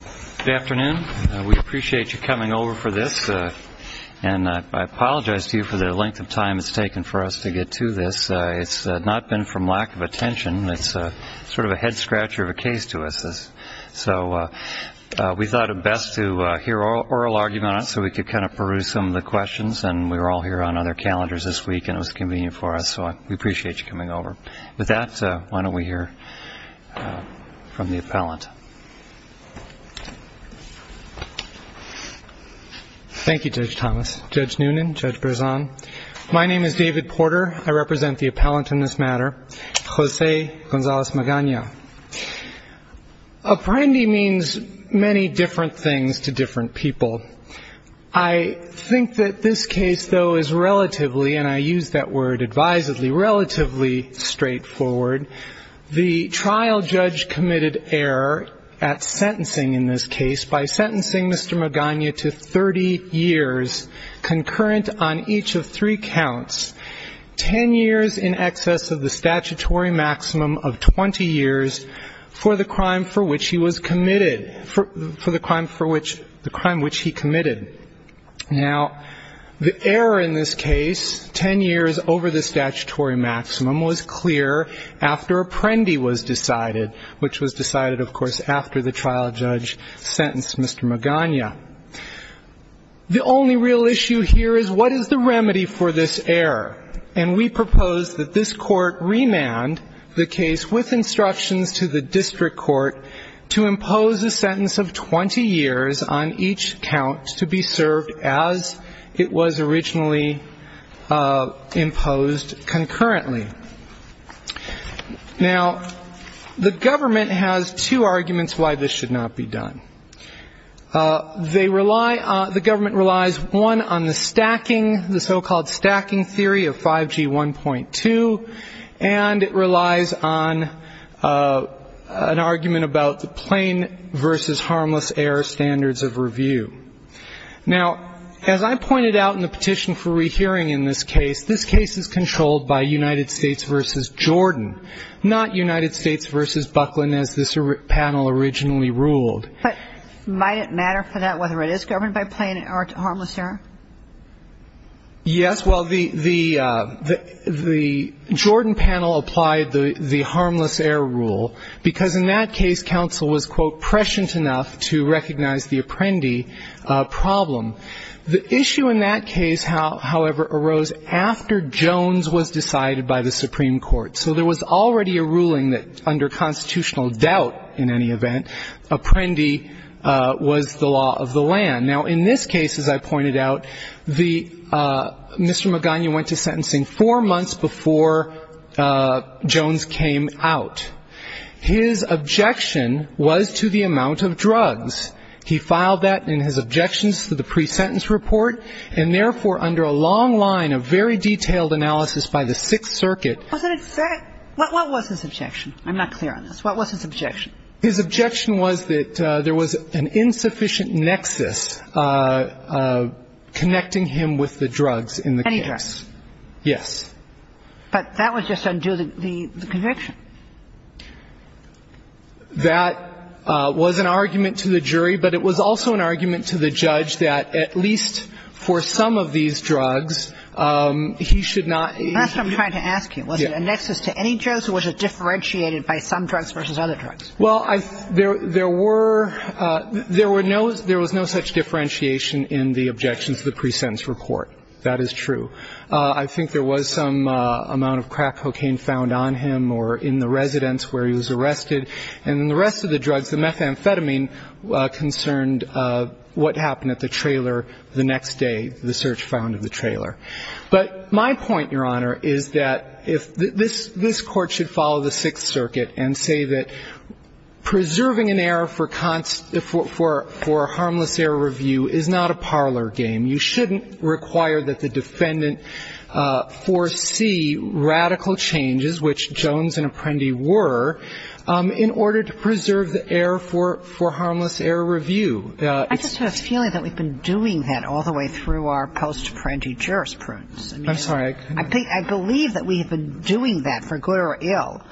Good afternoon. We appreciate you coming over for this. And I apologize to you for the length of time it's taken for us to get to this. It's not been from lack of attention. It's sort of a head scratcher of a case to us. So we thought it best to hear oral arguments so we could kind of peruse some of the questions. And we were all here on other calendars this week, and it was convenient for us. So we appreciate you coming over. With that, why don't we hear from the appellant. Thank you, Judge Thomas, Judge Noonan, Judge Berzon. My name is David Porter. I represent the appellant in this matter, Jose Gonzalez Magana. Apprendi means many different things to different people. I think that this case, though, is relatively, and I use that word advisedly, relatively straightforward. The trial judge committed error at sentencing in this case by sentencing Mr. Magana to 30 years, concurrent on each of three counts, 10 years in excess of the statutory maximum of 20 years for the crime for which he was committed, for the crime for which he committed. Now, the error in this case, 10 years over the statutory maximum, was clear after Apprendi was decided, which was decided, of course, after the trial judge sentenced Mr. Magana. The only real issue here is what is the remedy for this error? And we propose that this court remand the case with instructions to the district court to impose a sentence of 20 years on each count to be served as it was originally imposed concurrently. Now, the government has two arguments why this should not be done. They rely on the government relies, one, on the stacking, the so-called stacking theory of 5G 1.2, and it relies on an argument about the plain versus harmless error standards of review. Now, as I pointed out in the petition for rehearing in this case, this case is controlled by United States versus Jordan, not United States versus Buckland as this panel originally ruled. But might it matter for that whether it is governed by plain or harmless error? Yes. Well, the Jordan panel applied the harmless error rule because in that case, counsel was, quote, prescient enough to recognize the Apprendi problem. The issue in that case, however, arose after Jones was decided by the Supreme Court. So there was already a ruling that under constitutional doubt in any event, Apprendi was the law of the land. Now, in this case, as I pointed out, Mr. Magana went to sentencing four months before Jones came out. His objection was to the amount of drugs. He filed that in his objections to the pre-sentence report, and therefore under a long line of very detailed analysis by the Sixth Circuit. Wasn't it fair? What was his objection? I'm not clear on this. What was his objection? His objection was that there was an insufficient nexus connecting him with the drugs in the case. Any drugs? Yes. But that would just undo the conviction. That was an argument to the jury, but it was also an argument to the judge that at least for some of these drugs, he should not be. That's what I'm trying to ask you. Was it a nexus to any drugs or was it differentiated by some drugs versus other drugs? Well, there were no such differentiation in the objections to the pre-sentence report. That is true. I think there was some amount of crack cocaine found on him or in the residence where he was arrested. And in the rest of the drugs, the methamphetamine concerned what happened at the trailer the next day, the search found of the trailer. But my point, Your Honor, is that this Court should follow the Sixth Circuit and say that preserving an error for a harmless error review is not a parlor game. You shouldn't require that the defendant foresee radical changes, which Jones and Apprendi were, in order to preserve the error for harmless error review. I just have a feeling that we've been doing that all the way through our post-Apprendi jurisprudence. I'm sorry. I believe that we have been doing that for good or ill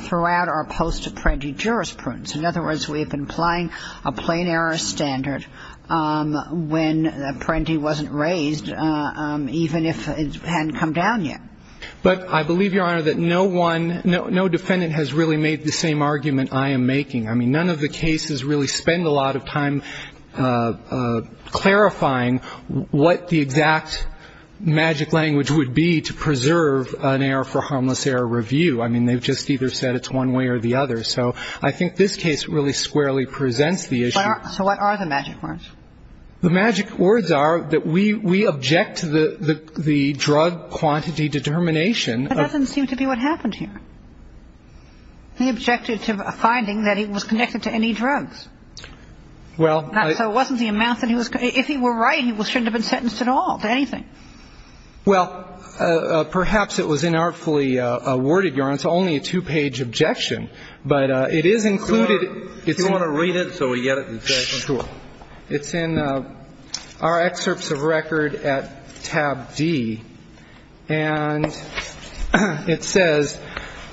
throughout our post-Apprendi jurisprudence. In other words, we have been applying a plain error standard when Apprendi wasn't raised, even if it hadn't come down yet. But I believe, Your Honor, that no one, no defendant has really made the same argument I am making. I mean, none of the cases really spend a lot of time clarifying what the exact magic language would be to preserve an error for harmless error review. I mean, they've just either said it's one way or the other. So I think this case really squarely presents the issue. So what are the magic words? The magic words are that we object to the drug quantity determination. That doesn't seem to be what happened here. He objected to a finding that it was connected to any drugs. Well, I – So it wasn't the amount that he was – if he were right, he shouldn't have been sentenced at all to anything. Well, perhaps it was inartfully worded, Your Honor. It's only a two-page objection. But it is included – Do you want to read it so we get it? Sure. It's in our excerpts of record at tab D. And it says,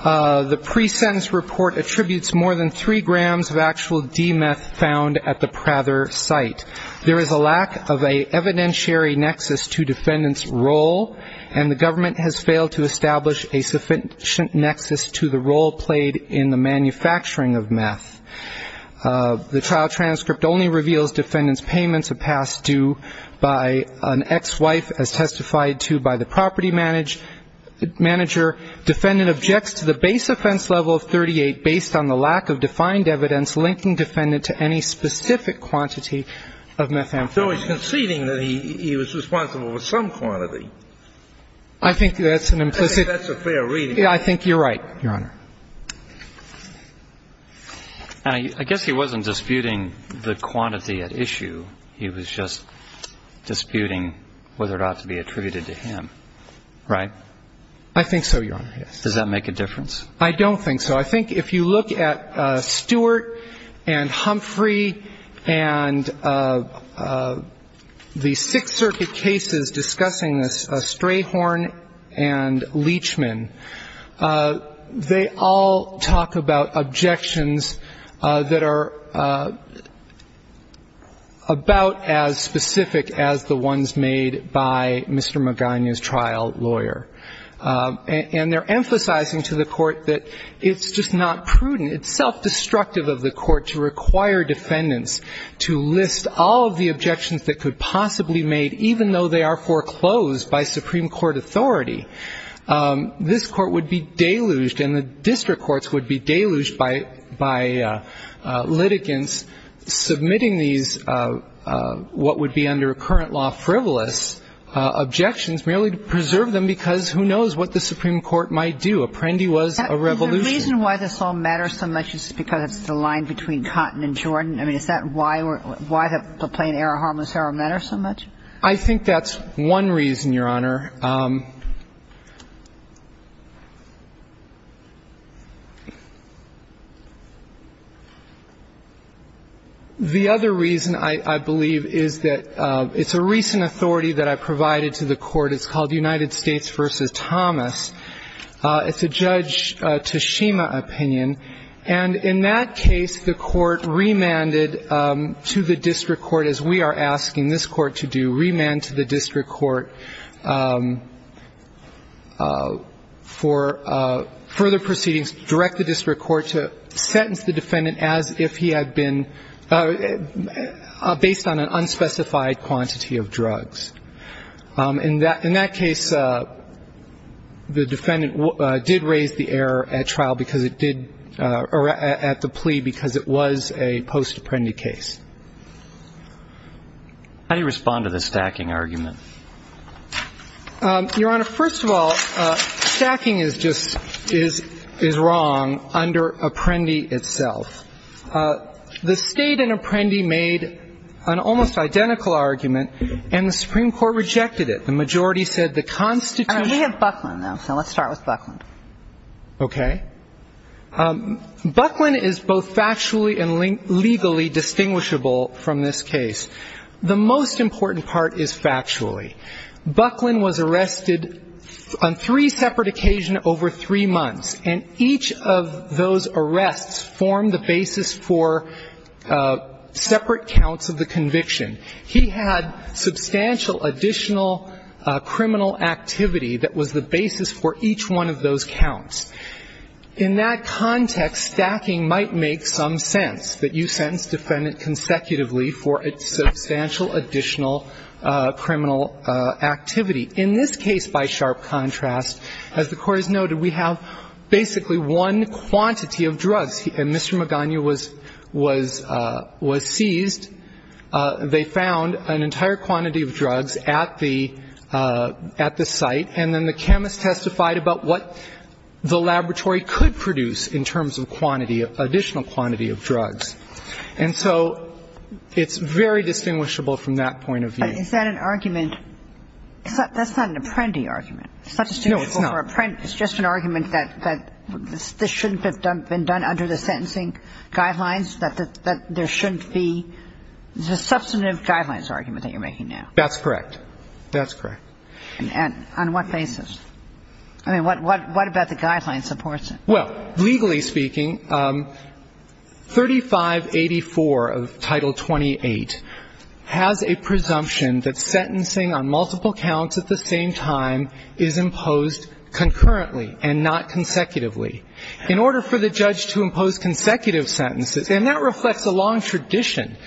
the pre-sentence report attributes more than three grams of actual D meth found at the Prather site. There is a lack of an evidentiary nexus to defendant's role, and the government has failed to establish a sufficient nexus to the role played in the manufacturing of meth. The trial transcript only reveals defendant's payments of past due by an ex-wife, as testified to by the property manager. Defendant objects to the base offense level of 38 based on the lack of defined evidence linking defendant to any specific quantity of methamphetamine. So he's conceding that he was responsible for some quantity. I think that's an implicit – I think that's a fair reading. I think you're right, Your Honor. And I guess he wasn't disputing the quantity at issue. He was just disputing whether it ought to be attributed to him, right? I think so, Your Honor, yes. Does that make a difference? I don't think so. I think if you look at Stewart and Humphrey and the Sixth Circuit cases discussing this, and Leachman, they all talk about objections that are about as specific as the ones made by Mr. Magana's trial lawyer. And they're emphasizing to the court that it's just not prudent. It's self-destructive of the court to require defendants to list all of the objections that could possibly be made, even though they are foreclosed by Supreme Court authority. This court would be deluged, and the district courts would be deluged by litigants submitting these what would be under current law frivolous objections merely to preserve them because who knows what the Supreme Court might do. Apprendi was a revolution. Is the reason why this all matters so much is because it's the line between Cotton and Jordan? I mean, is that why the plain error harmless error matters so much? I think that's one reason, Your Honor. The other reason, I believe, is that it's a recent authority that I provided to the court. It's called United States v. Thomas. It's a Judge Tashima opinion. And in that case, the court remanded to the district court, as we are asking this court to do, remand to the district court for further proceedings, direct the district court to sentence the defendant as if he had been based on an unspecified quantity of drugs. In that case, the defendant did raise the error at trial because it did at the plea because it was a post-Apprendi case. How do you respond to the stacking argument? Your Honor, first of all, stacking is just is wrong under Apprendi itself. The State and Apprendi made an almost identical argument, and the Supreme Court rejected it. The majority said the Constitution. We have Buckland now, so let's start with Buckland. Okay. Buckland is both factually and legally distinguishable from this case. The most important part is factually. Buckland was arrested on three separate occasions over three months, and each of those arrests formed the basis for separate counts of the conviction. He had substantial additional criminal activity that was the basis for each one of those counts. In that context, stacking might make some sense, that you sentence the defendant consecutively for substantial additional criminal activity. In this case, by sharp contrast, as the Court has noted, we have basically one quantity of drugs, and Mr. Magana was seized. They found an entire quantity of drugs at the site, and then the chemist testified about what the laboratory could produce in terms of quantity, additional quantity of drugs. And so it's very distinguishable from that point of view. But is that an argument? That's not an Apprendi argument. No, it's not. Substantial for Apprendi. It's just an argument that this shouldn't have been done under the sentencing guidelines, that there shouldn't be. It's a substantive guidelines argument that you're making now. That's correct. That's correct. And on what basis? I mean, what about the guidelines supports it? Well, legally speaking, 3584 of Title 28 has a presumption that sentencing on multiple counts at the same time is imposed concurrently and not consecutively. In order for the judge to impose consecutive sentences, and that reflects a long tradition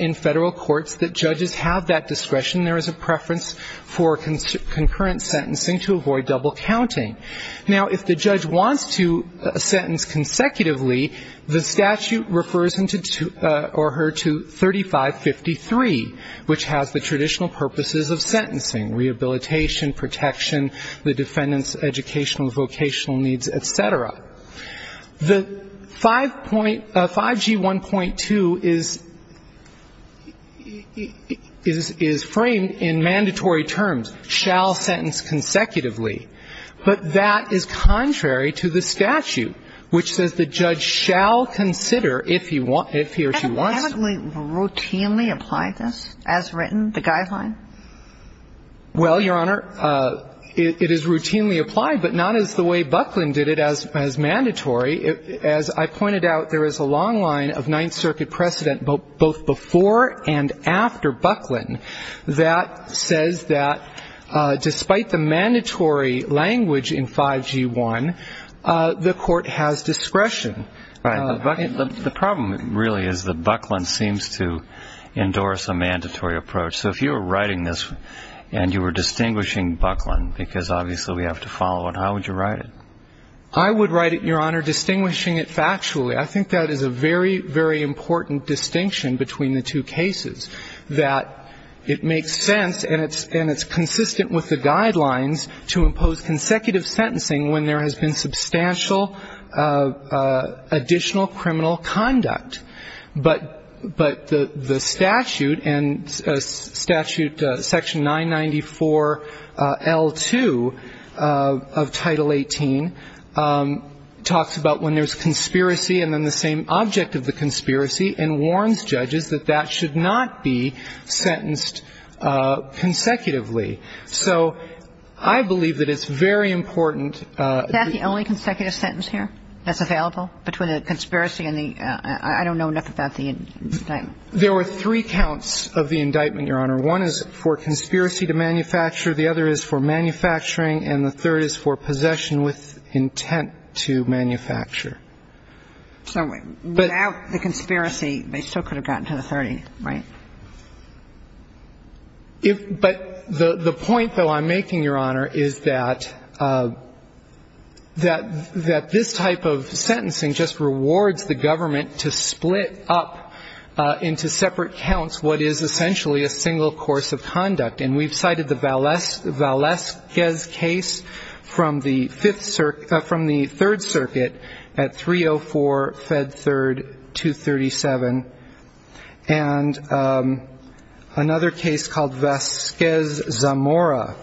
in Federal courts, that judges have that discretion. There is a preference for concurrent sentencing to avoid double counting. Now, if the judge wants to sentence consecutively, the statute refers him to or her to 3553, which has the traditional purposes of sentencing, rehabilitation, protection, the defendant's educational, vocational needs, et cetera. The 5G1.2 is framed in mandatory terms, shall sentence consecutively. But that is contrary to the statute, which says the judge shall consider if he or she wants to. Haven't we routinely applied this as written, the guideline? Well, Your Honor, it is routinely applied, but not as the way Bucklin did it as mandatory. As I pointed out, there is a long line of Ninth Circuit precedent both before and after Bucklin that says that despite the mandatory language in 5G1, the court has discretion. Right. But the problem really is that Bucklin seems to endorse a mandatory approach. So if you were writing this and you were distinguishing Bucklin, because obviously we have to follow it, how would you write it? I would write it, Your Honor, distinguishing it factually. I think that is a very, very important distinction between the two cases, that it makes sense and it's consistent with the guidelines to impose consecutive sentencing when there has been substantial additional criminal conduct. But the statute and statute section 994L2 of Title 18 talks about when there is conspiracy and then the same object of the conspiracy and warns judges that that should not be sentenced consecutively. So I believe that it's very important. Is that the only consecutive sentence here that's available between the conspiracy and the — I don't know enough about the indictment. There were three counts of the indictment, Your Honor. One is for conspiracy to manufacture. The other is for manufacturing. And the third is for possession with intent to manufacture. So without the conspiracy, they still could have gotten to the 30th, right? But the point, though, I'm making, Your Honor, is that this type of sentencing just rewards the government to split up into separate counts what is essentially a single course of conduct. And we've cited the Valesquez case from the Third Circuit at 304, Fed 3rd, 237. And another case called Valesquez-Zamora,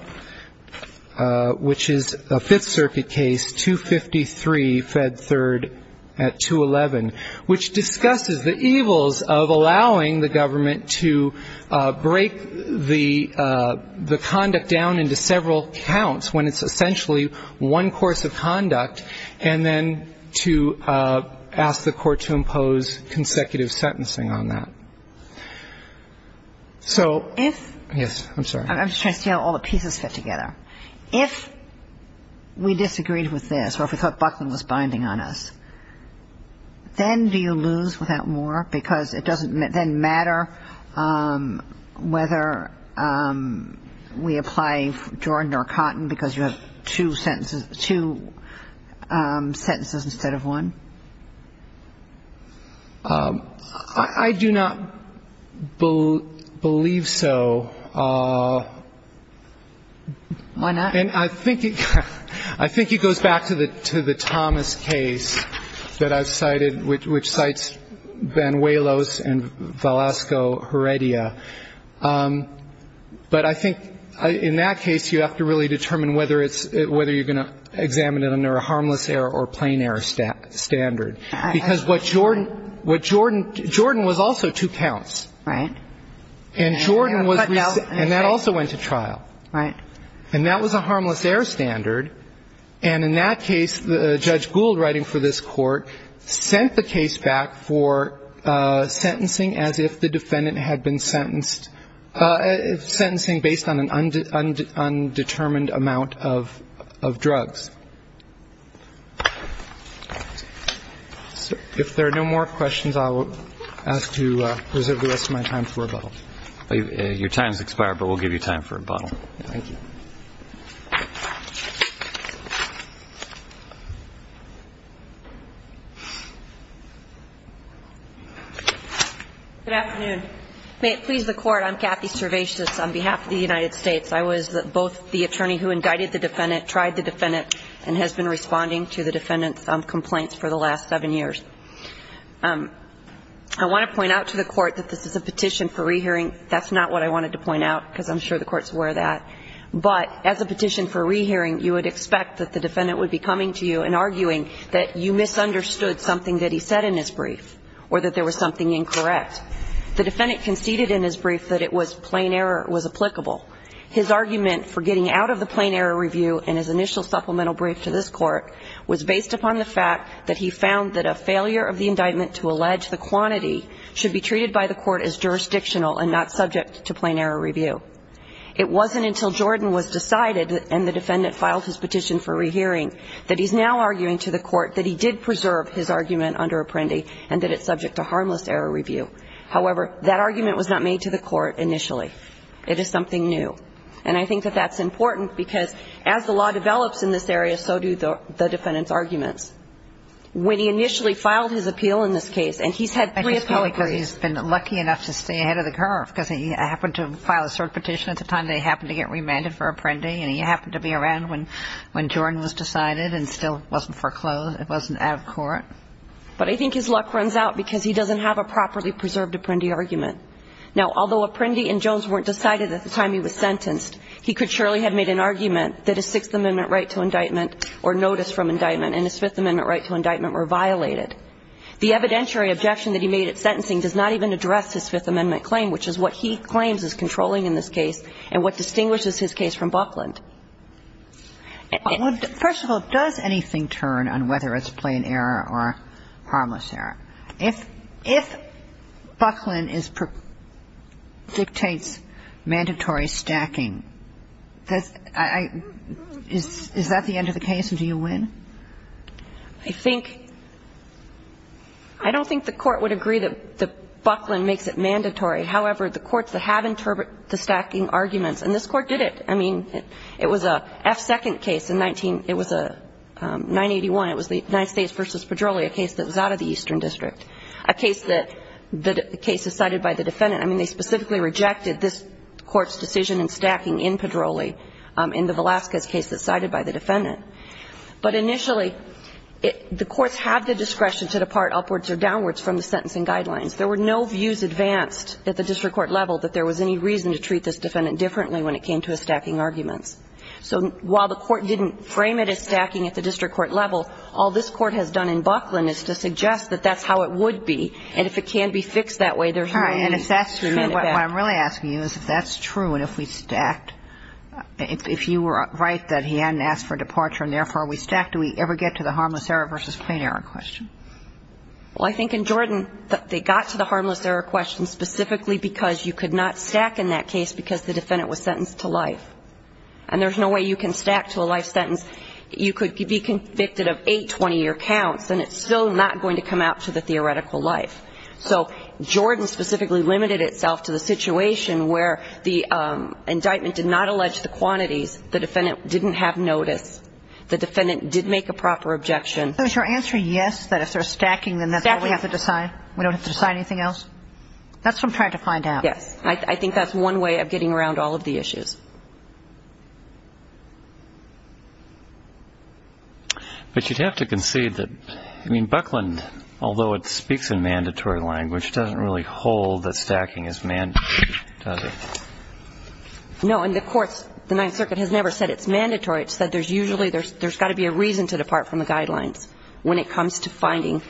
which is a Fifth Circuit case, 253, Fed 3rd at 211, which discusses the evils of allowing the government to break the conduct down into several counts when it's essentially one course of conduct, and then to ask the court to impose consecutive sentencing on that. So — If — Yes, I'm sorry. I'm just trying to see how all the pieces fit together. If we disagreed with this or if we thought Buckland was binding on us, then do you lose without more because it doesn't then matter whether we apply Jordan or Cotton because you have two sentences instead of one? I do not believe so. Why not? And I think it goes back to the Thomas case that I've cited, which cites Banuelos and Velasco-Heredia. But I think in that case, you have to really determine whether it's — whether you're going to examine it under a harmless error or plain error standard. Because what Jordan — what Jordan — Jordan was also two counts. Right. And Jordan was — But now — And that also went to trial. Right. And that was a harmless error standard. And in that case, Judge Gould writing for this Court sent the case back for sentencing as if the defendant had been sentenced — sentencing based on an undetermined amount of drugs. If there are no more questions, I will ask to reserve the rest of my time for rebuttal. Your time has expired, but we'll give you time for rebuttal. Thank you. Good afternoon. May it please the Court, I'm Kathy Servatius on behalf of the United States. I was both the attorney who indicted the defendant, tried the defendant, and has been responding to the defendant's complaints for the last seven years. I want to point out to the Court that this is a petition for rehearing. That's not what I wanted to point out, because I'm sure the Court's aware of that. But as a petition for rehearing, you would expect that the defendant would be coming to you and arguing that you misunderstood something that he said in his brief or that there was something incorrect. The defendant conceded in his brief that it was plain error was applicable. His argument for getting out of the plain error review in his initial supplemental brief to this Court was based upon the fact that he found that a failure of the indictment to allege the quantity should be treated by the Court as jurisdictional and not subject to plain error review. It wasn't until Jordan was decided, and the defendant filed his petition for rehearing, that he's now arguing to the Court that he did preserve his argument under Apprendi and that it's subject to harmless error review. However, that argument was not made to the Court initially. It is something new. And I think that that's important, because as the law develops in this area, so do the defendant's arguments. When he initially filed his appeal in this case, and he's had three appeals. I think it's probably because he's been lucky enough to stay ahead of the curve, because he happened to file a third petition at the time they happened to get remanded for Apprendi, and he happened to be around when Jordan was decided and still wasn't foreclosed. It wasn't out of court. But I think his luck runs out because he doesn't have a properly preserved Apprendi argument. Now, although Apprendi and Jones weren't decided at the time he was sentenced, he could surely have made an argument that a Sixth Amendment right to indictment or notice from indictment and a Fifth Amendment right to indictment were violated. The evidentiary objection that he made at sentencing does not even address his Fifth Amendment claim, which is what he claims is controlling in this case and what distinguishes his case from Buckland. First of all, does anything turn on whether it's plain error or harmless error? If Buckland dictates mandatory stacking, is that the end of the case and do you win? I don't think the Court would agree that Buckland makes it mandatory. However, the courts that have interpreted the stacking arguments, and this Court did it. I mean, it was a F-second case in 19 – it was a 981. It was the United States v. Pedroli, a case that was out of the Eastern District, a case that the case is cited by the defendant. I mean, they specifically rejected this Court's decision in stacking in Pedroli in the Velasquez case that's cited by the defendant. But initially, the courts have the discretion to depart upwards or downwards from the sentencing guidelines. There were no views advanced at the district court level that there was any reason to treat this defendant differently when it came to his stacking arguments. So while the Court didn't frame it as stacking at the district court level, all this Court has done in Buckland is to suggest that that's how it would be. And if it can be fixed that way, there's no need to send it back. All right. And if that's true, what I'm really asking you is if that's true and if we stacked – if you were right that he hadn't asked for departure and therefore we stacked, do we ever get to the harmless error versus plain error question? Well, I think in Jordan, they got to the harmless error question specifically because you could not stack in that case because the defendant was sentenced to life. And there's no way you can stack to a life sentence. You could be convicted of eight 20-year counts, and it's still not going to come out to the theoretical life. So Jordan specifically limited itself to the situation where the indictment did not allege the quantities. The defendant didn't have notice. The defendant did make a proper objection. So is your answer yes, that if they're stacking, then that's all we have to decide? We don't have to decide anything else? That's what I'm trying to find out. Yes. I think that's one way of getting around all of the issues. But you'd have to concede that – I mean, Buckland, although it speaks in mandatory language, doesn't really hold that stacking is mandatory, does it? No, and the courts – the Ninth Circuit has never said it's mandatory. It said there's usually – there's got to be a reason to depart from the guidelines when it comes to finding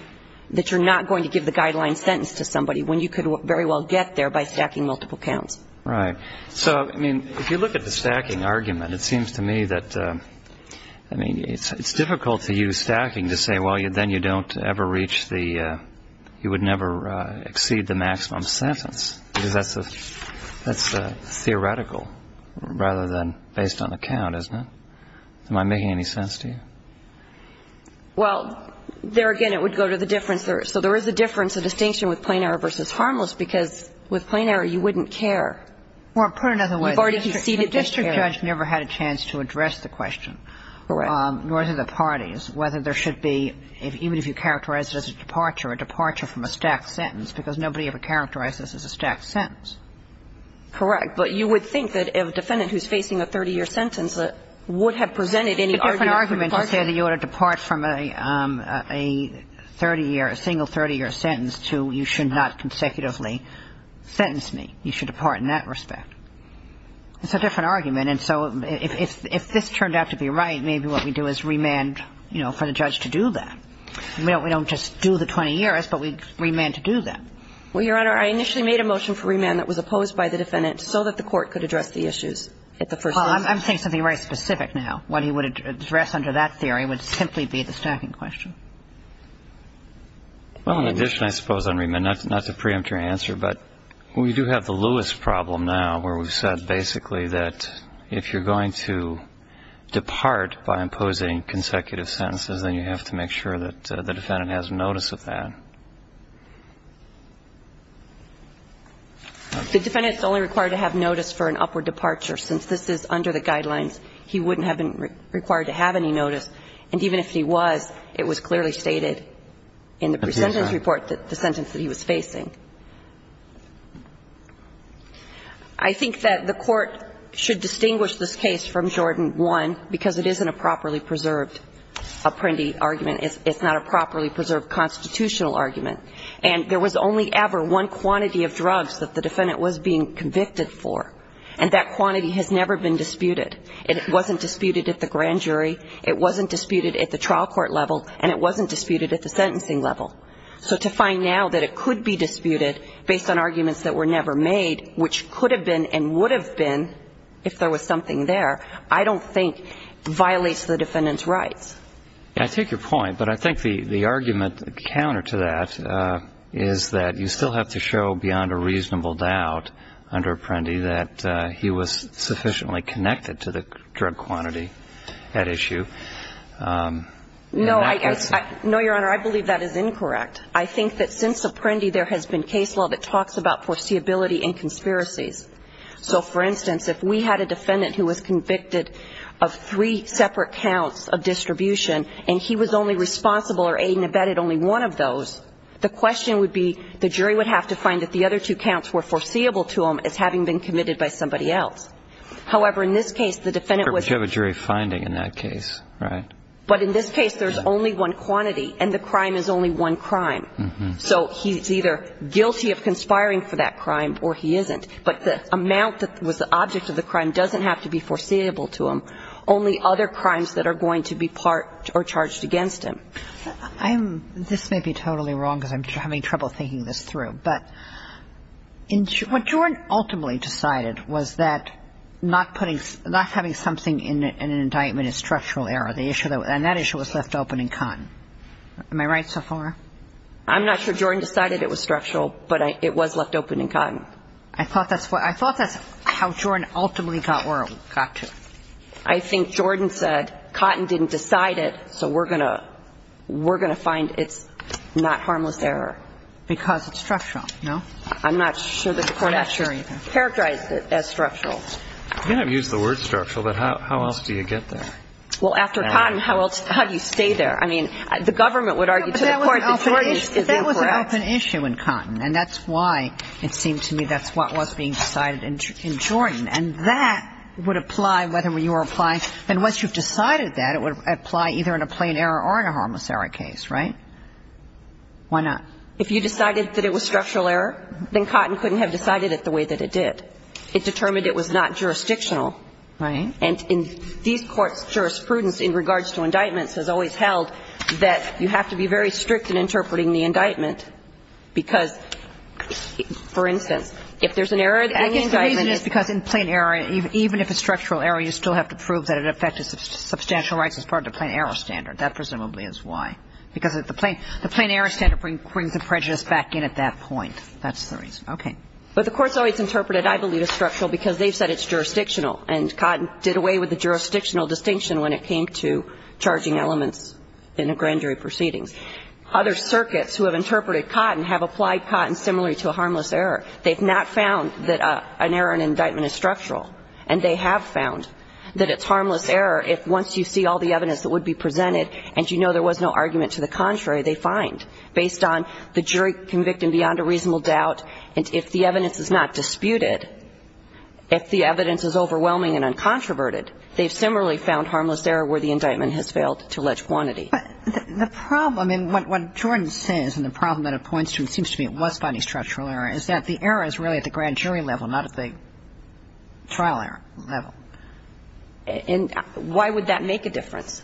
that you're not going to give the guideline sentence to somebody when you could very well get there by stacking multiple counts. Right. So, I mean, if you look at the stacking argument, it seems to me that – I mean, it's difficult to use stacking to say, well, then you don't ever reach the – you would never exceed the maximum sentence because that's theoretical rather than based on the count, isn't it? Am I making any sense to you? Well, there again, it would go to the difference. So there is a difference, a distinction with plain error versus harmless because with plain error, you wouldn't care. Well, put it another way. You've already conceded that you care. The district judge never had a chance to address the question, nor did the parties, whether there should be – even if you characterize it as a departure, a departure from a stacked sentence because nobody ever characterized this as a stacked sentence. Correct. But you would think that a defendant who's facing a 30-year sentence would have presented any argument. It's a different argument to say that you ought to depart from a 30-year – a single 30-year sentence to you should not consecutively sentence me. You should depart in that respect. It's a different argument. And so if this turned out to be right, maybe what we do is remand, you know, for the judge to do that. We don't just do the 20 years, but we remand to do that. Well, Your Honor, I initially made a motion for remand that was opposed by the defendant so that the court could address the issues at the first instance. Well, I'm saying something very specific now. What he would address under that theory would simply be the stacking question. Well, in addition, I suppose, on remand, not to preempt your answer, but we do have the Lewis problem now where we've said basically that if you're going to depart by imposing consecutive sentences, then you have to make sure that the defendant has notice of that. The defendant is only required to have notice for an upward departure. Since this is under the guidelines, he wouldn't have been required to have any notice. And even if he was, it was clearly stated in the presentence report that the sentence that he was facing. I think that the Court should distinguish this case from Jordan 1 because it isn't a properly preserved apprendi argument. It's not a properly preserved constitutional argument. And there was only ever one quantity of drugs that the defendant was being convicted for. And that quantity has never been disputed. It wasn't disputed at the grand jury. It wasn't disputed at the trial court level. And it wasn't disputed at the sentencing level. So to find now that it could be disputed based on arguments that were never made, which could have been and would have been if there was something there, I don't think violates the defendant's rights. I take your point. But I think the argument counter to that is that you still have to show beyond a reasonable doubt under apprendi that he was sufficiently connected to the drug quantity at issue. No, Your Honor, I believe that is incorrect. I think that since apprendi there has been case law that talks about foreseeability and conspiracies. So, for instance, if we had a defendant who was convicted of three separate counts of distribution and he was only responsible or aid and abetted only one of those, the question would be the jury would have to find that the other two counts were foreseeable to him as having been committed by somebody else. However, in this case, the defendant was. But you have a jury finding in that case, right? But in this case, there's only one quantity and the crime is only one crime. So he's either guilty of conspiring for that crime or he isn't. But the amount that was the object of the crime doesn't have to be foreseeable to him, only other crimes that are going to be part or charged against him. This may be totally wrong because I'm having trouble thinking this through. But what Jordan ultimately decided was that not having something in an indictment is structural error. And that issue was left open in Cotton. Am I right so far? I'm not sure Jordan decided it was structural, but it was left open in Cotton. I thought that's how Jordan ultimately got to it. I think Jordan said Cotton didn't decide it, so we're going to find it's not harmless error. Because it's structural, no? I'm not sure that the Court has characterized it as structural. You have used the word structural, but how else do you get there? Well, after Cotton, how do you stay there? I mean, the government would argue to the Court that Jordan is incorrect. But it's an open issue in Cotton, and that's why it seemed to me that's what was being decided in Jordan. And that would apply whether you were applying – and once you've decided that, it would apply either in a plain error or in a harmless error case, right? Why not? If you decided that it was structural error, then Cotton couldn't have decided it the way that it did. It determined it was not jurisdictional. Right. And these courts' jurisprudence in regards to indictments has always held that you have to be very strict in interpreting the indictment because, for instance, if there's an error in the indictment, I guess the reason is because in plain error, even if it's structural error, you still have to prove that it affected substantial rights as part of the plain error standard. That presumably is why. Because the plain error standard brings the prejudice back in at that point. That's the reason. Okay. But the Court's always interpreted, I believe, as structural because they've said it's jurisdictional and Cotton did away with the jurisdictional distinction when it came to charging elements in a grand jury proceedings. Other circuits who have interpreted Cotton have applied Cotton similarly to a harmless error. They've not found that an error in an indictment is structural. And they have found that it's harmless error if once you see all the evidence that would be presented and you know there was no argument to the contrary, they find, based on the jury convicted beyond a reasonable doubt, if the evidence is not disputed, if the evidence is overwhelming and uncontroverted, they've similarly found harmless error where the indictment has failed to allege quantity. But the problem in what Jordan says and the problem that it points to, it seems to me it was finding structural error, is that the error is really at the grand jury level, not at the trial level. And why would that make a difference?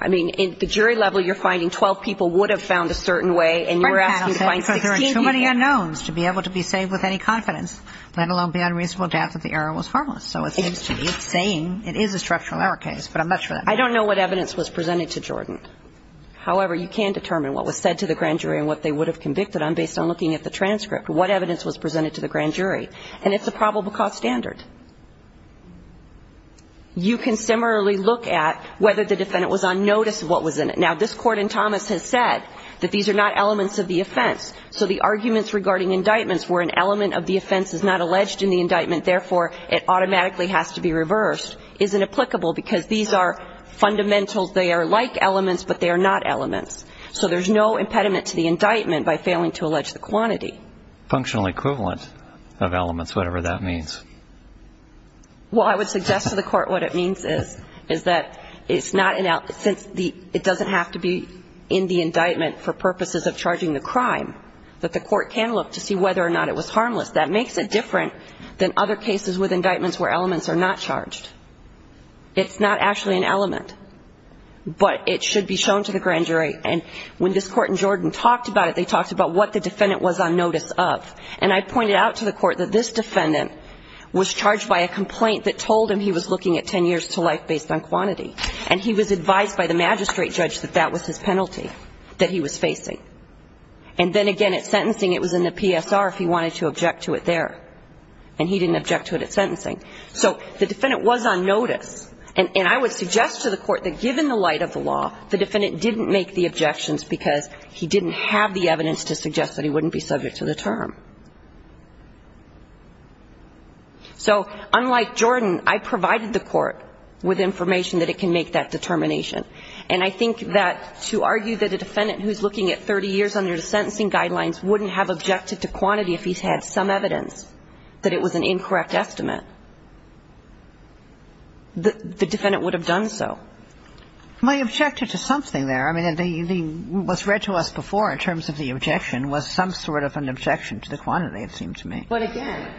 I mean, in the jury level, you're finding 12 people would have found a certain way and you're asking to find 16 people. There are too many unknowns to be able to be saved with any confidence, let alone beyond reasonable doubt that the error was harmless. So it seems to me it's saying it is a structural error case, but I'm not sure that makes sense. I don't know what evidence was presented to Jordan. However, you can determine what was said to the grand jury and what they would have convicted on based on looking at the transcript, what evidence was presented to the grand jury. And it's a probable cause standard. You can similarly look at whether the defendant was on notice of what was in it. Now, this Court in Thomas has said that these are not elements of the offense, so the arguments regarding indictments where an element of the offense is not alleged in the indictment, therefore it automatically has to be reversed, isn't applicable because these are fundamentals. They are like elements, but they are not elements. So there's no impediment to the indictment by failing to allege the quantity. Functional equivalent of elements, whatever that means. Well, I would suggest to the Court what it means is, is that it's not, since it doesn't have to be in the indictment for purposes of charging the crime, that the Court can look to see whether or not it was harmless. That makes it different than other cases with indictments where elements are not charged. It's not actually an element. But it should be shown to the grand jury. And when this Court in Jordan talked about it, they talked about what the defendant was on notice of. And I pointed out to the Court that this defendant was charged by a complaint that told him he was looking at 10 years to life based on quantity. And he was advised by the magistrate judge that that was his penalty that he was facing. And then again, at sentencing, it was in the PSR if he wanted to object to it there. And he didn't object to it at sentencing. So the defendant was on notice. And I would suggest to the Court that given the light of the law, the defendant didn't make the objections because he didn't have the evidence to suggest that he wouldn't be subject to the term. So unlike Jordan, I provided the Court with information that it can make that determination. And I think that to argue that a defendant who's looking at 30 years under the sentencing guidelines wouldn't have objected to quantity if he's had some evidence that it was an incorrect estimate, the defendant would have done so. My objection to something there. I mean, what's read to us before in terms of the objection was some sort of an objection to the quantity, it seemed to me. But again,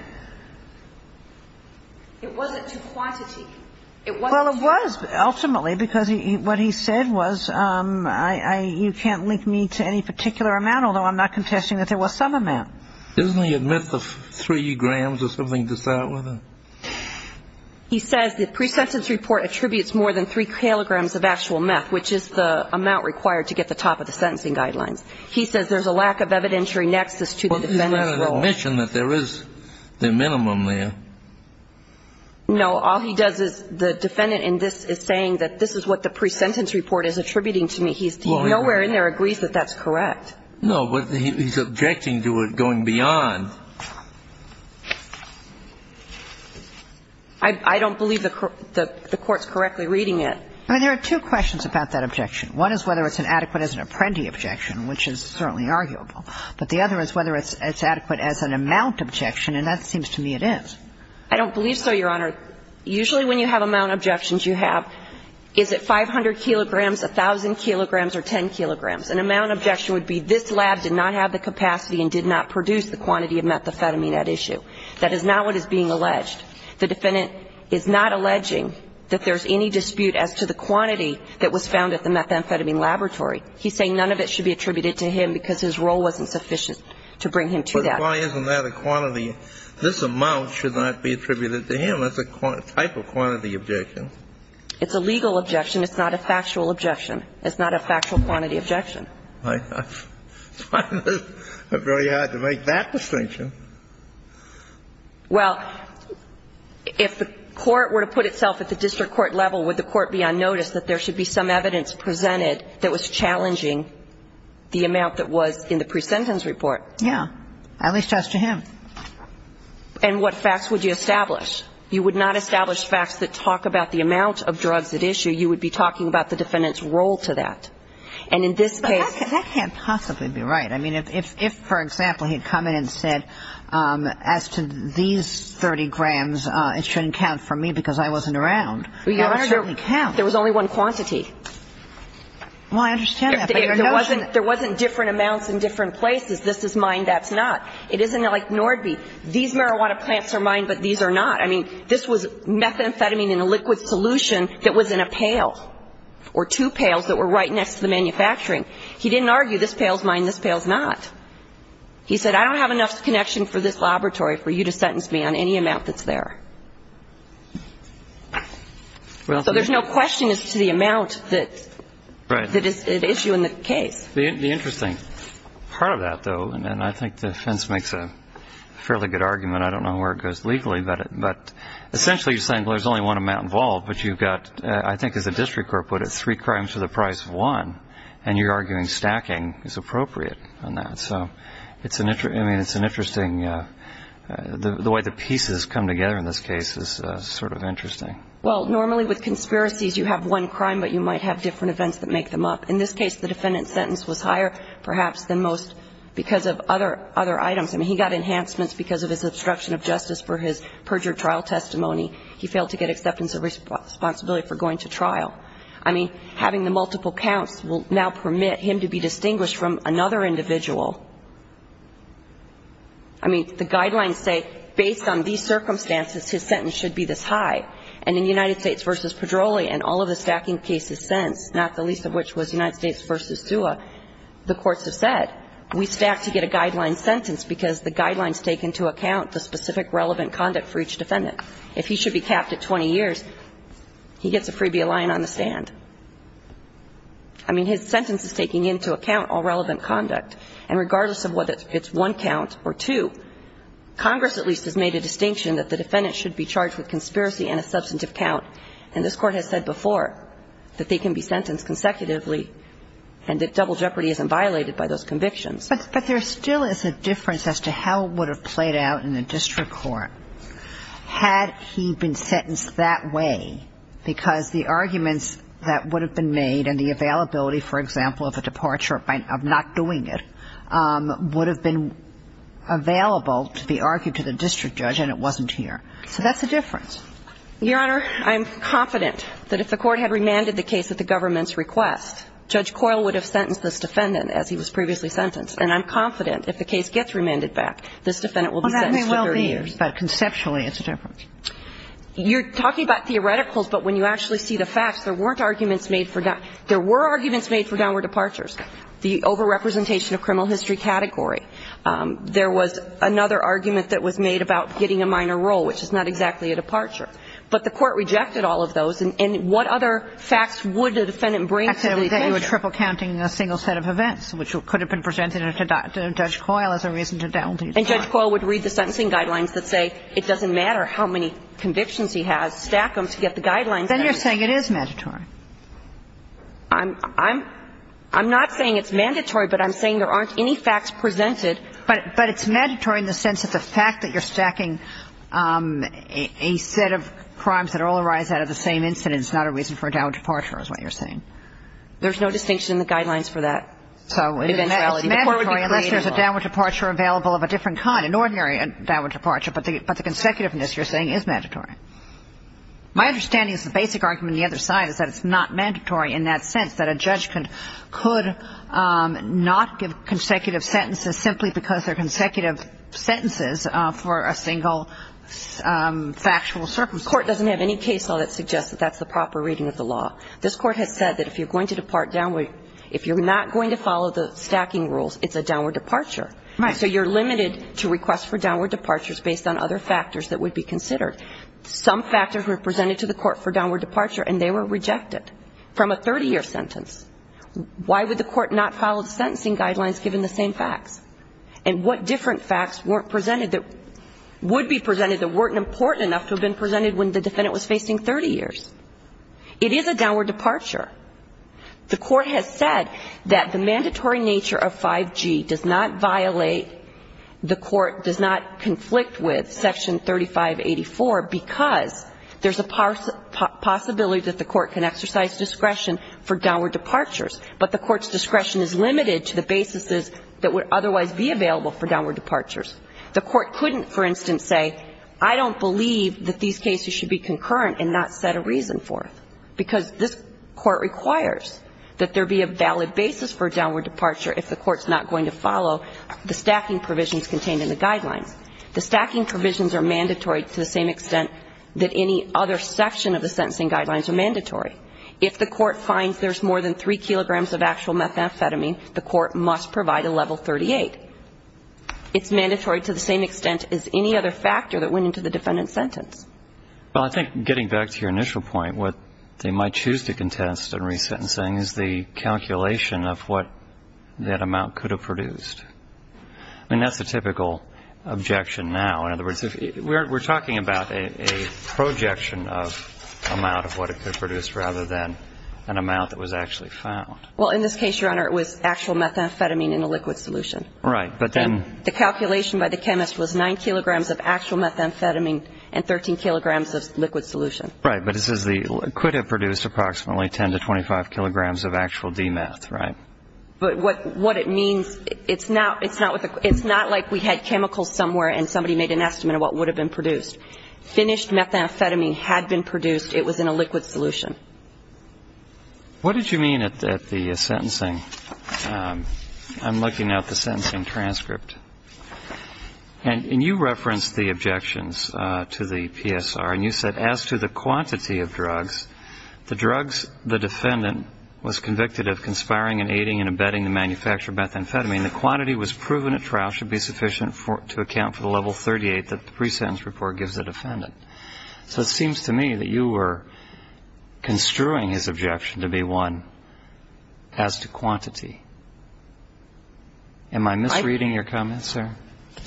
it wasn't to quantity. It wasn't to quantity. Well, it was ultimately because what he said was you can't link me to any particular amount, although I'm not contesting that there was some amount. Doesn't he admit the three grams or something to start with? He says the pre-sentence report attributes more than three kilograms of actual meth, which is the amount required to get the top of the sentencing guidelines. He says there's a lack of evidentiary nexus to the defendant's role. Well, is that an admission that there is the minimum there? No. All he does is the defendant in this is saying that this is what the pre-sentence report is attributing to me. He's nowhere in there agrees that that's correct. No, but he's objecting to it going beyond. I don't believe the Court's correctly reading it. I mean, there are two questions about that objection. One is whether it's an adequate as an apprenti objection, which is certainly arguable. But the other is whether it's adequate as an amount objection, and that seems to me it is. I don't believe so, Your Honor. Usually when you have amount objections, you have is it 500 kilograms, 1,000 kilograms, or 10 kilograms. An amount objection would be this lab did not have the capacity and did not produce the quantity of methamphetamine at issue. That is not what is being alleged. The defendant is not alleging that there's any dispute as to the quantity that was found at the methamphetamine laboratory. He's saying none of it should be attributed to him because his role wasn't sufficient to bring him to that. But why isn't that a quantity? This amount should not be attributed to him. That's a type of quantity objection. It's a legal objection. It's not a factual objection. It's not a factual quantity objection. I find it very hard to make that distinction. Well, if the court were to put itself at the district court level, would the court be on notice that there should be some evidence presented that was challenging the amount that was in the presentence report? Yeah. At least as to him. And what facts would you establish? You would not establish facts that talk about the amount of drugs at issue. You would be talking about the defendant's role to that. And in this case. But that can't possibly be right. I mean, if, for example, he had come in and said, as to these 30 grams, it shouldn't count for me because I wasn't around. That doesn't count. There was only one quantity. Well, I understand that. But your notion. There wasn't different amounts in different places. This is mine. That's not. It isn't like Nordby. These marijuana plants are mine, but these are not. I mean, this was methamphetamine in a liquid solution that was in a pail. Or two pails that were right next to the manufacturing. He didn't argue, this pail is mine, this pail is not. He said, I don't have enough connection for this laboratory for you to sentence me on any amount that's there. So there's no question as to the amount that is at issue in the case. The interesting part of that, though, and I think the defense makes a fairly good argument. I don't know where it goes legally, but essentially you're saying there's only one amount involved, but you've got, I think as the district court put it, three crimes for the price of one. And you're arguing stacking is appropriate on that. So it's an interesting, I mean, it's an interesting, the way the pieces come together in this case is sort of interesting. Well, normally with conspiracies you have one crime, but you might have different events that make them up. In this case, the defendant's sentence was higher, perhaps, than most because of other items. I mean, he got enhancements because of his obstruction of justice for his perjured trial testimony. He failed to get acceptance of responsibility for going to trial. I mean, having the multiple counts will now permit him to be distinguished from another individual. I mean, the guidelines say, based on these circumstances, his sentence should be this high. And in United States v. Pedroli and all of the stacking cases since, not the least of which was United States v. Sua, the courts have said, we stack to get a guideline sentence because the guidelines take into account the specific relevant conduct for each defendant. If he should be capped at 20 years, he gets a freebie line on the stand. I mean, his sentence is taking into account all relevant conduct. And regardless of whether it's one count or two, Congress at least has made a distinction that the defendant should be charged with conspiracy and a substantive count. And this Court has said before that they can be sentenced consecutively and that double jeopardy isn't violated by those convictions. But there still is a difference as to how it would have played out in a district court had he been sentenced that way, because the arguments that would have been made and the availability, for example, of a departure of not doing it, would have been available to be argued to the district judge and it wasn't here. So that's a difference. Your Honor, I'm confident that if the Court had remanded the case at the government's request, Judge Coyle would have sentenced this defendant as he was previously sentenced. And I'm confident if the case gets remanded back, this defendant will be sentenced to 30 years. Well, that may well be, but conceptually it's a difference. You're talking about theoreticals, but when you actually see the facts, there weren't arguments made for down – there were arguments made for downward departures, the overrepresentation of criminal history category. There was another argument that was made about getting a minor role, which is not exactly a departure. But the Court rejected all of those. And what other facts would a defendant bring to the attention? I said that you were triple counting a single set of events, which could have been presented to Judge Coyle as a reason to down – And Judge Coyle would read the sentencing guidelines that say it doesn't matter how many convictions he has, stack them to get the guidelines. Then you're saying it is mandatory. I'm not saying it's mandatory, but I'm saying there aren't any facts presented. But it's mandatory in the sense that the fact that you're stacking a set of crimes that all arise out of the same incident is not a reason for a downward departure is what you're saying. There's no distinction in the guidelines for that. So it's mandatory unless there's a downward departure available of a different kind, an ordinary downward departure. But the consecutiveness, you're saying, is mandatory. My understanding is the basic argument on the other side is that it's not mandatory in that sense, that a judge could not give consecutive sentences simply because they're consecutive sentences for a single factual circumstance. The Court doesn't have any case law that suggests that that's the proper reading of the law. This Court has said that if you're going to depart downward, if you're not going to follow the stacking rules, it's a downward departure. Right. So you're limited to requests for downward departures based on other factors that would be considered. Some factors were presented to the Court for downward departure, and they were rejected from a 30-year sentence. Why would the Court not follow the sentencing guidelines given the same facts? And what different facts weren't presented that would be presented that weren't important enough to have been presented when the defendant was facing 30 years? It is a downward departure. The Court has said that the mandatory nature of 5G does not violate, the Court does not conflict with Section 3584 because there's a possibility that the Court can exercise discretion for downward departures, but the Court's discretion is limited to the basis that would otherwise be available for downward departures. The Court couldn't, for instance, say, I don't believe that these cases should be concurrent and not set a reason for it, because this Court requires that there be a valid basis for a downward departure if the Court's not going to follow the sentencing guidelines. The stacking provisions are mandatory to the same extent that any other section of the sentencing guidelines are mandatory. If the Court finds there's more than 3 kilograms of actual methamphetamine, the Court must provide a level 38. It's mandatory to the same extent as any other factor that went into the defendant's sentence. Well, I think getting back to your initial point, what they might choose to contest in resentencing is the calculation of what that amount could have produced. I mean, that's the typical objection now. In other words, we're talking about a projection of amount of what it could produce rather than an amount that was actually found. Well, in this case, Your Honor, it was actual methamphetamine in a liquid solution. Right. But then the calculation by the chemist was 9 kilograms of actual methamphetamine and 13 kilograms of liquid solution. Right. But it says it could have produced approximately 10 to 25 kilograms of actual de-meth, right? But what it means, it's not like we had chemicals somewhere and somebody made an estimate of what would have been produced. Finished methamphetamine had been produced. It was in a liquid solution. What did you mean at the sentencing? I'm looking at the sentencing transcript. And you referenced the objections to the PSR. And you said, as to the quantity of drugs, the drugs the defendant was convicted of conspiring in aiding and abetting the manufacture of methamphetamine, the quantity was proven at trial should be sufficient to account for the level 38 that the pre-sentence report gives the defendant. So it seems to me that you were construing his objection to be one as to quantity. Am I misreading your comments, sir?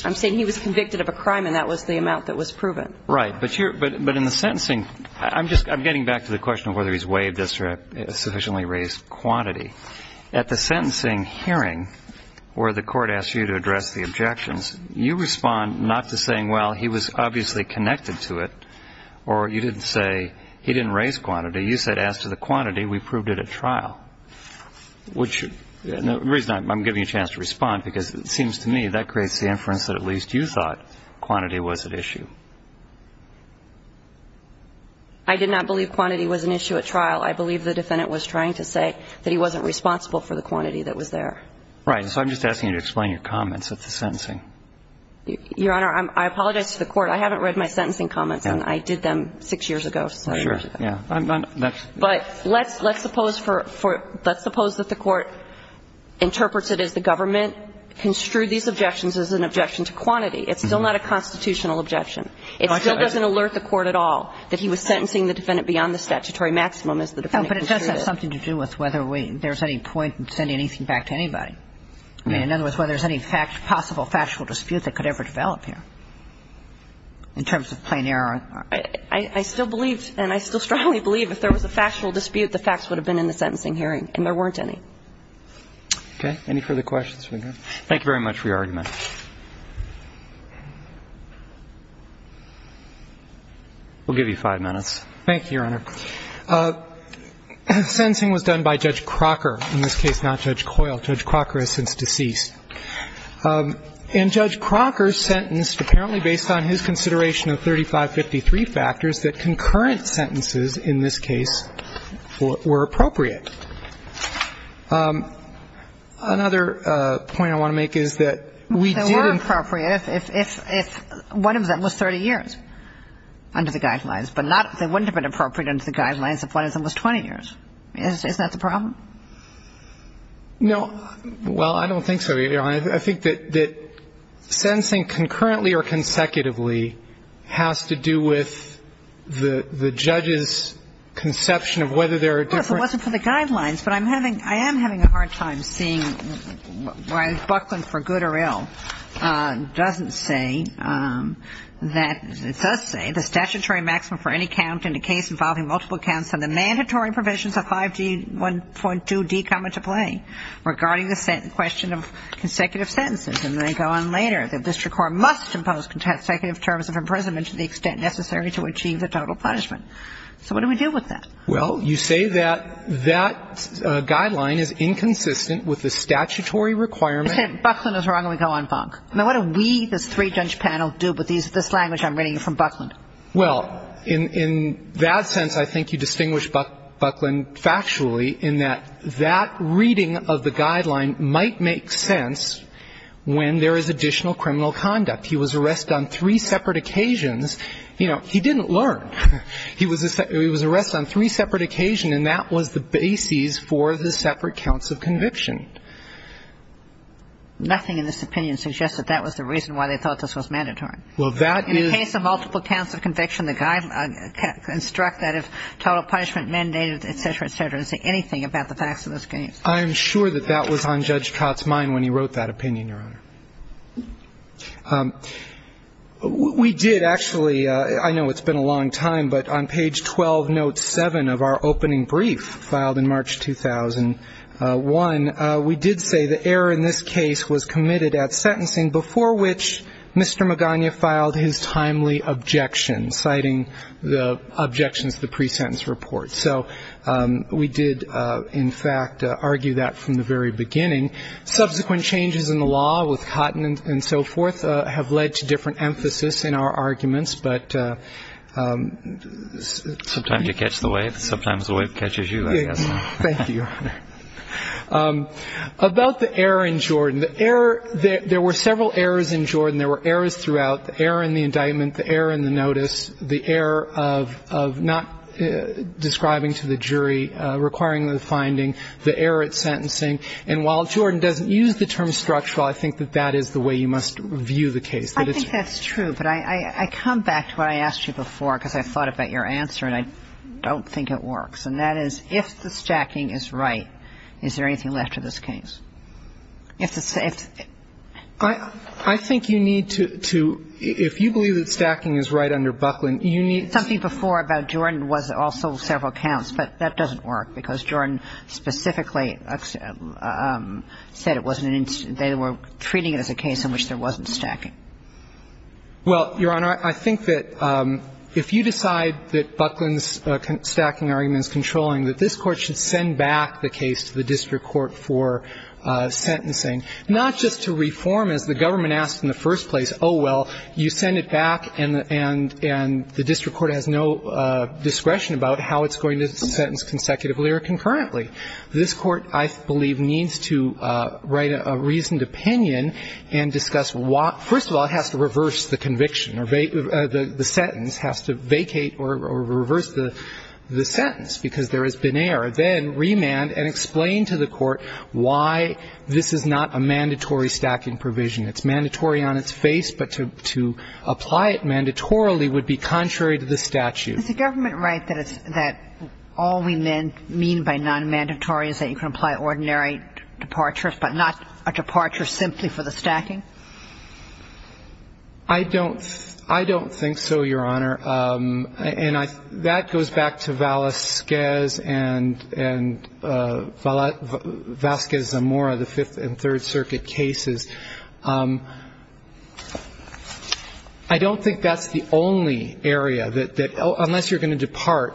I'm saying he was convicted of a crime, and that was the amount that was proven. Right. But in the sentencing, I'm getting back to the question of whether he's waived this or has sufficiently raised quantity. At the sentencing hearing where the court asked you to address the objections, you respond not to saying, well, he was obviously connected to it, or you didn't say he didn't raise quantity. You said, as to the quantity, we proved it at trial. The reason I'm giving you a chance to respond, because it seems to me that creates the inference that at least you thought quantity was at issue. I did not believe quantity was an issue at trial. I believe the defendant was trying to say that he wasn't responsible for the quantity that was there. Right. So I'm just asking you to explain your comments at the sentencing. Your Honor, I apologize to the Court. I haven't read my sentencing comments, and I did them six years ago. Sure. But let's suppose that the Court interprets it as the government construed these objections as an objection to quantity. It's still not a constitutional objection. It still doesn't alert the Court at all that he was sentencing the defendant beyond the statutory maximum as the defendant construed it. But it does have something to do with whether there's any point in sending anything back to anybody. In other words, whether there's any possible factual dispute that could ever develop here in terms of plain error. I still believe, and I still strongly believe, if there was a factual dispute, the facts would have been in the sentencing hearing, and there weren't any. Okay. Any further questions? Thank you very much for your argument. We'll give you five minutes. Thank you, Your Honor. Sentencing was done by Judge Crocker. In this case, not Judge Coyle. Judge Crocker is since deceased. And Judge Crocker sentenced, apparently based on his consideration of 3553 factors, that concurrent sentences in this case were appropriate. Another point I want to make is that we didn't. They were appropriate if one of them was 30 years under the guidelines, but not if they weren't appropriate under the guidelines if one of them was 20 years. Isn't that the problem? No. Well, I don't think so, Your Honor. I think that sentencing concurrently or consecutively has to do with the judge's conception of whether there are different. Well, if it wasn't for the guidelines. But I am having a hard time seeing why Buckland for good or ill doesn't say that the statutory maximum for any count in a case involving multiple counts and the mandatory provisions of 5G1.2D come into play regarding the question of consecutive sentences. And they go on later. The district court must impose consecutive terms of imprisonment to the extent necessary to achieve the total punishment. So what do we do with that? Well, you say that that guideline is inconsistent with the statutory requirement. I said Buckland is wrong, and we go on bunk. Now, what do we, this three-judge panel, do with this language I'm reading from Buckland? Well, in that sense, I think you distinguish Buckland factually in that that reading of the guideline might make sense when there is additional criminal conduct. He was arrested on three separate occasions. You know, he didn't learn. He was arrested on three separate occasions, and that was the basis for the separate counts of conviction. Nothing in this opinion suggests that that was the reason why they thought this was mandatory. In the case of multiple counts of conviction, the guideline instructs that if total punishment mandated, et cetera, et cetera, it doesn't say anything about the facts of this case. I'm sure that that was on Judge Cott's mind when he wrote that opinion, Your Honor. We did actually, I know it's been a long time, but on page 12, note 7 of our opening brief filed in March 2001, we did say the error in this case was committed at sentencing, before which Mr. Magana filed his timely objection, citing the objections to the pre-sentence report. So we did, in fact, argue that from the very beginning. Subsequent changes in the law with Cotton and so forth have led to different emphasis in our arguments. But sometimes you catch the wave, sometimes the wave catches you, I guess. Thank you, Your Honor. About the error in Jordan, the error, there were several errors in Jordan. There were errors throughout, the error in the indictment, the error in the notice, the error of not describing to the jury, requiring the finding, the error at sentencing. And while Jordan doesn't use the term structural, I think that that is the way you must view the case. I think that's true. But I come back to what I asked you before, because I thought about your answer, and I don't think it works, and that is if the stacking is right, is there anything left to this case? I think you need to, if you believe that stacking is right under Buckland, you need to Something before about Jordan was also several counts, but that doesn't work, because Jordan specifically said it wasn't, they were treating it as a case in which there Well, Your Honor, I think that if you decide that Buckland's stacking argument is controlling, that this Court should send back the case to the district court for sentencing, not just to reform, as the government asked in the first place, oh, well, you send it back and the district court has no discretion about how it's going to sentence consecutively or concurrently. This Court, I believe, needs to write a reasoned opinion and discuss what, first of all, has to reverse the conviction or the sentence, has to vacate or reverse the sentence, because there has been error. Then remand and explain to the Court why this is not a mandatory stacking provision. It's mandatory on its face, but to apply it mandatorily would be contrary to the statute. Is the government right that all we mean by nonmandatory is that you can apply the ordinary departure, but not a departure simply for the stacking? I don't think so, Your Honor. And that goes back to Vazquez and Vazquez-Zamora, the Fifth and Third Circuit cases. I don't think that's the only area that, unless you're going to depart,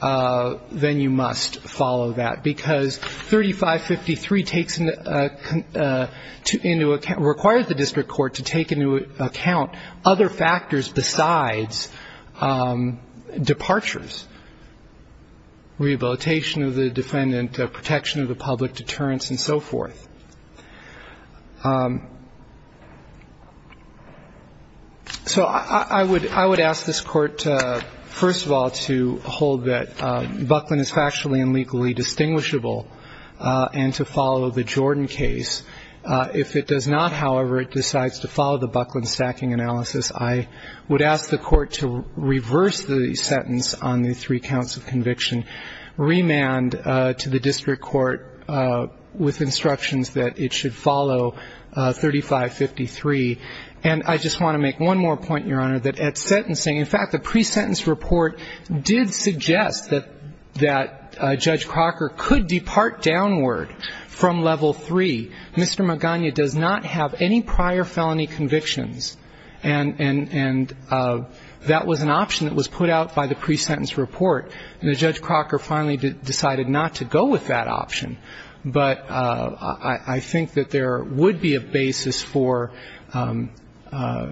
then you must follow that, because 3553 requires the district court to take into account other factors besides departures, rehabilitation of the defendant, protection of the public, deterrence and so forth. So I would ask this Court, first of all, to hold that Buckland is factually and legally distinguishable and to follow the Jordan case. If it does not, however, it decides to follow the Buckland stacking analysis, I would ask the Court to reverse the sentence on the three counts of conviction, remand to the district court with instructions that it should follow 3553. And I just want to make one more point, Your Honor, that at sentencing, in fact, the pre-sentence report did suggest that Judge Crocker could depart downward from level three. Mr. Magana does not have any prior felony convictions, and that was an option that was put out by the pre-sentence report, and Judge Crocker finally decided not to go with that option. But I think that there would be a basis for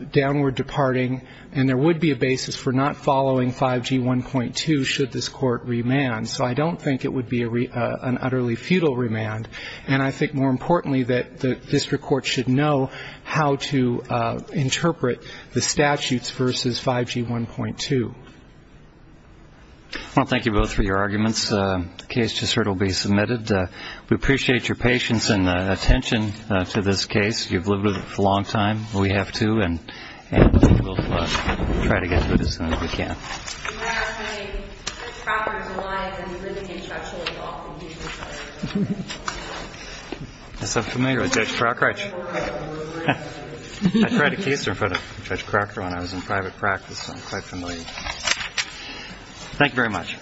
downward departing, and there would be a basis for not following 5G1.2 should this Court remand. So I don't think it would be an utterly futile remand. And I think, more importantly, that the district court should know how to interpret the statutes versus 5G1.2. Well, thank you both for your arguments. The case just heard will be submitted. We appreciate your patience and attention to this case. You've lived with it for a long time. We have, too, and we'll try to get to it as soon as we can. You might ask me, Judge Crocker, why is it that you live in the district court so often? Because I'm familiar with Judge Crocker. I tried a case in front of Judge Crocker when I was in private practice, so I'm quite familiar. Thank you very much. Thank you, Your Honor. Ms. Corker, you're suspended for concession. The stand is adjourned. Thank you. Thank you.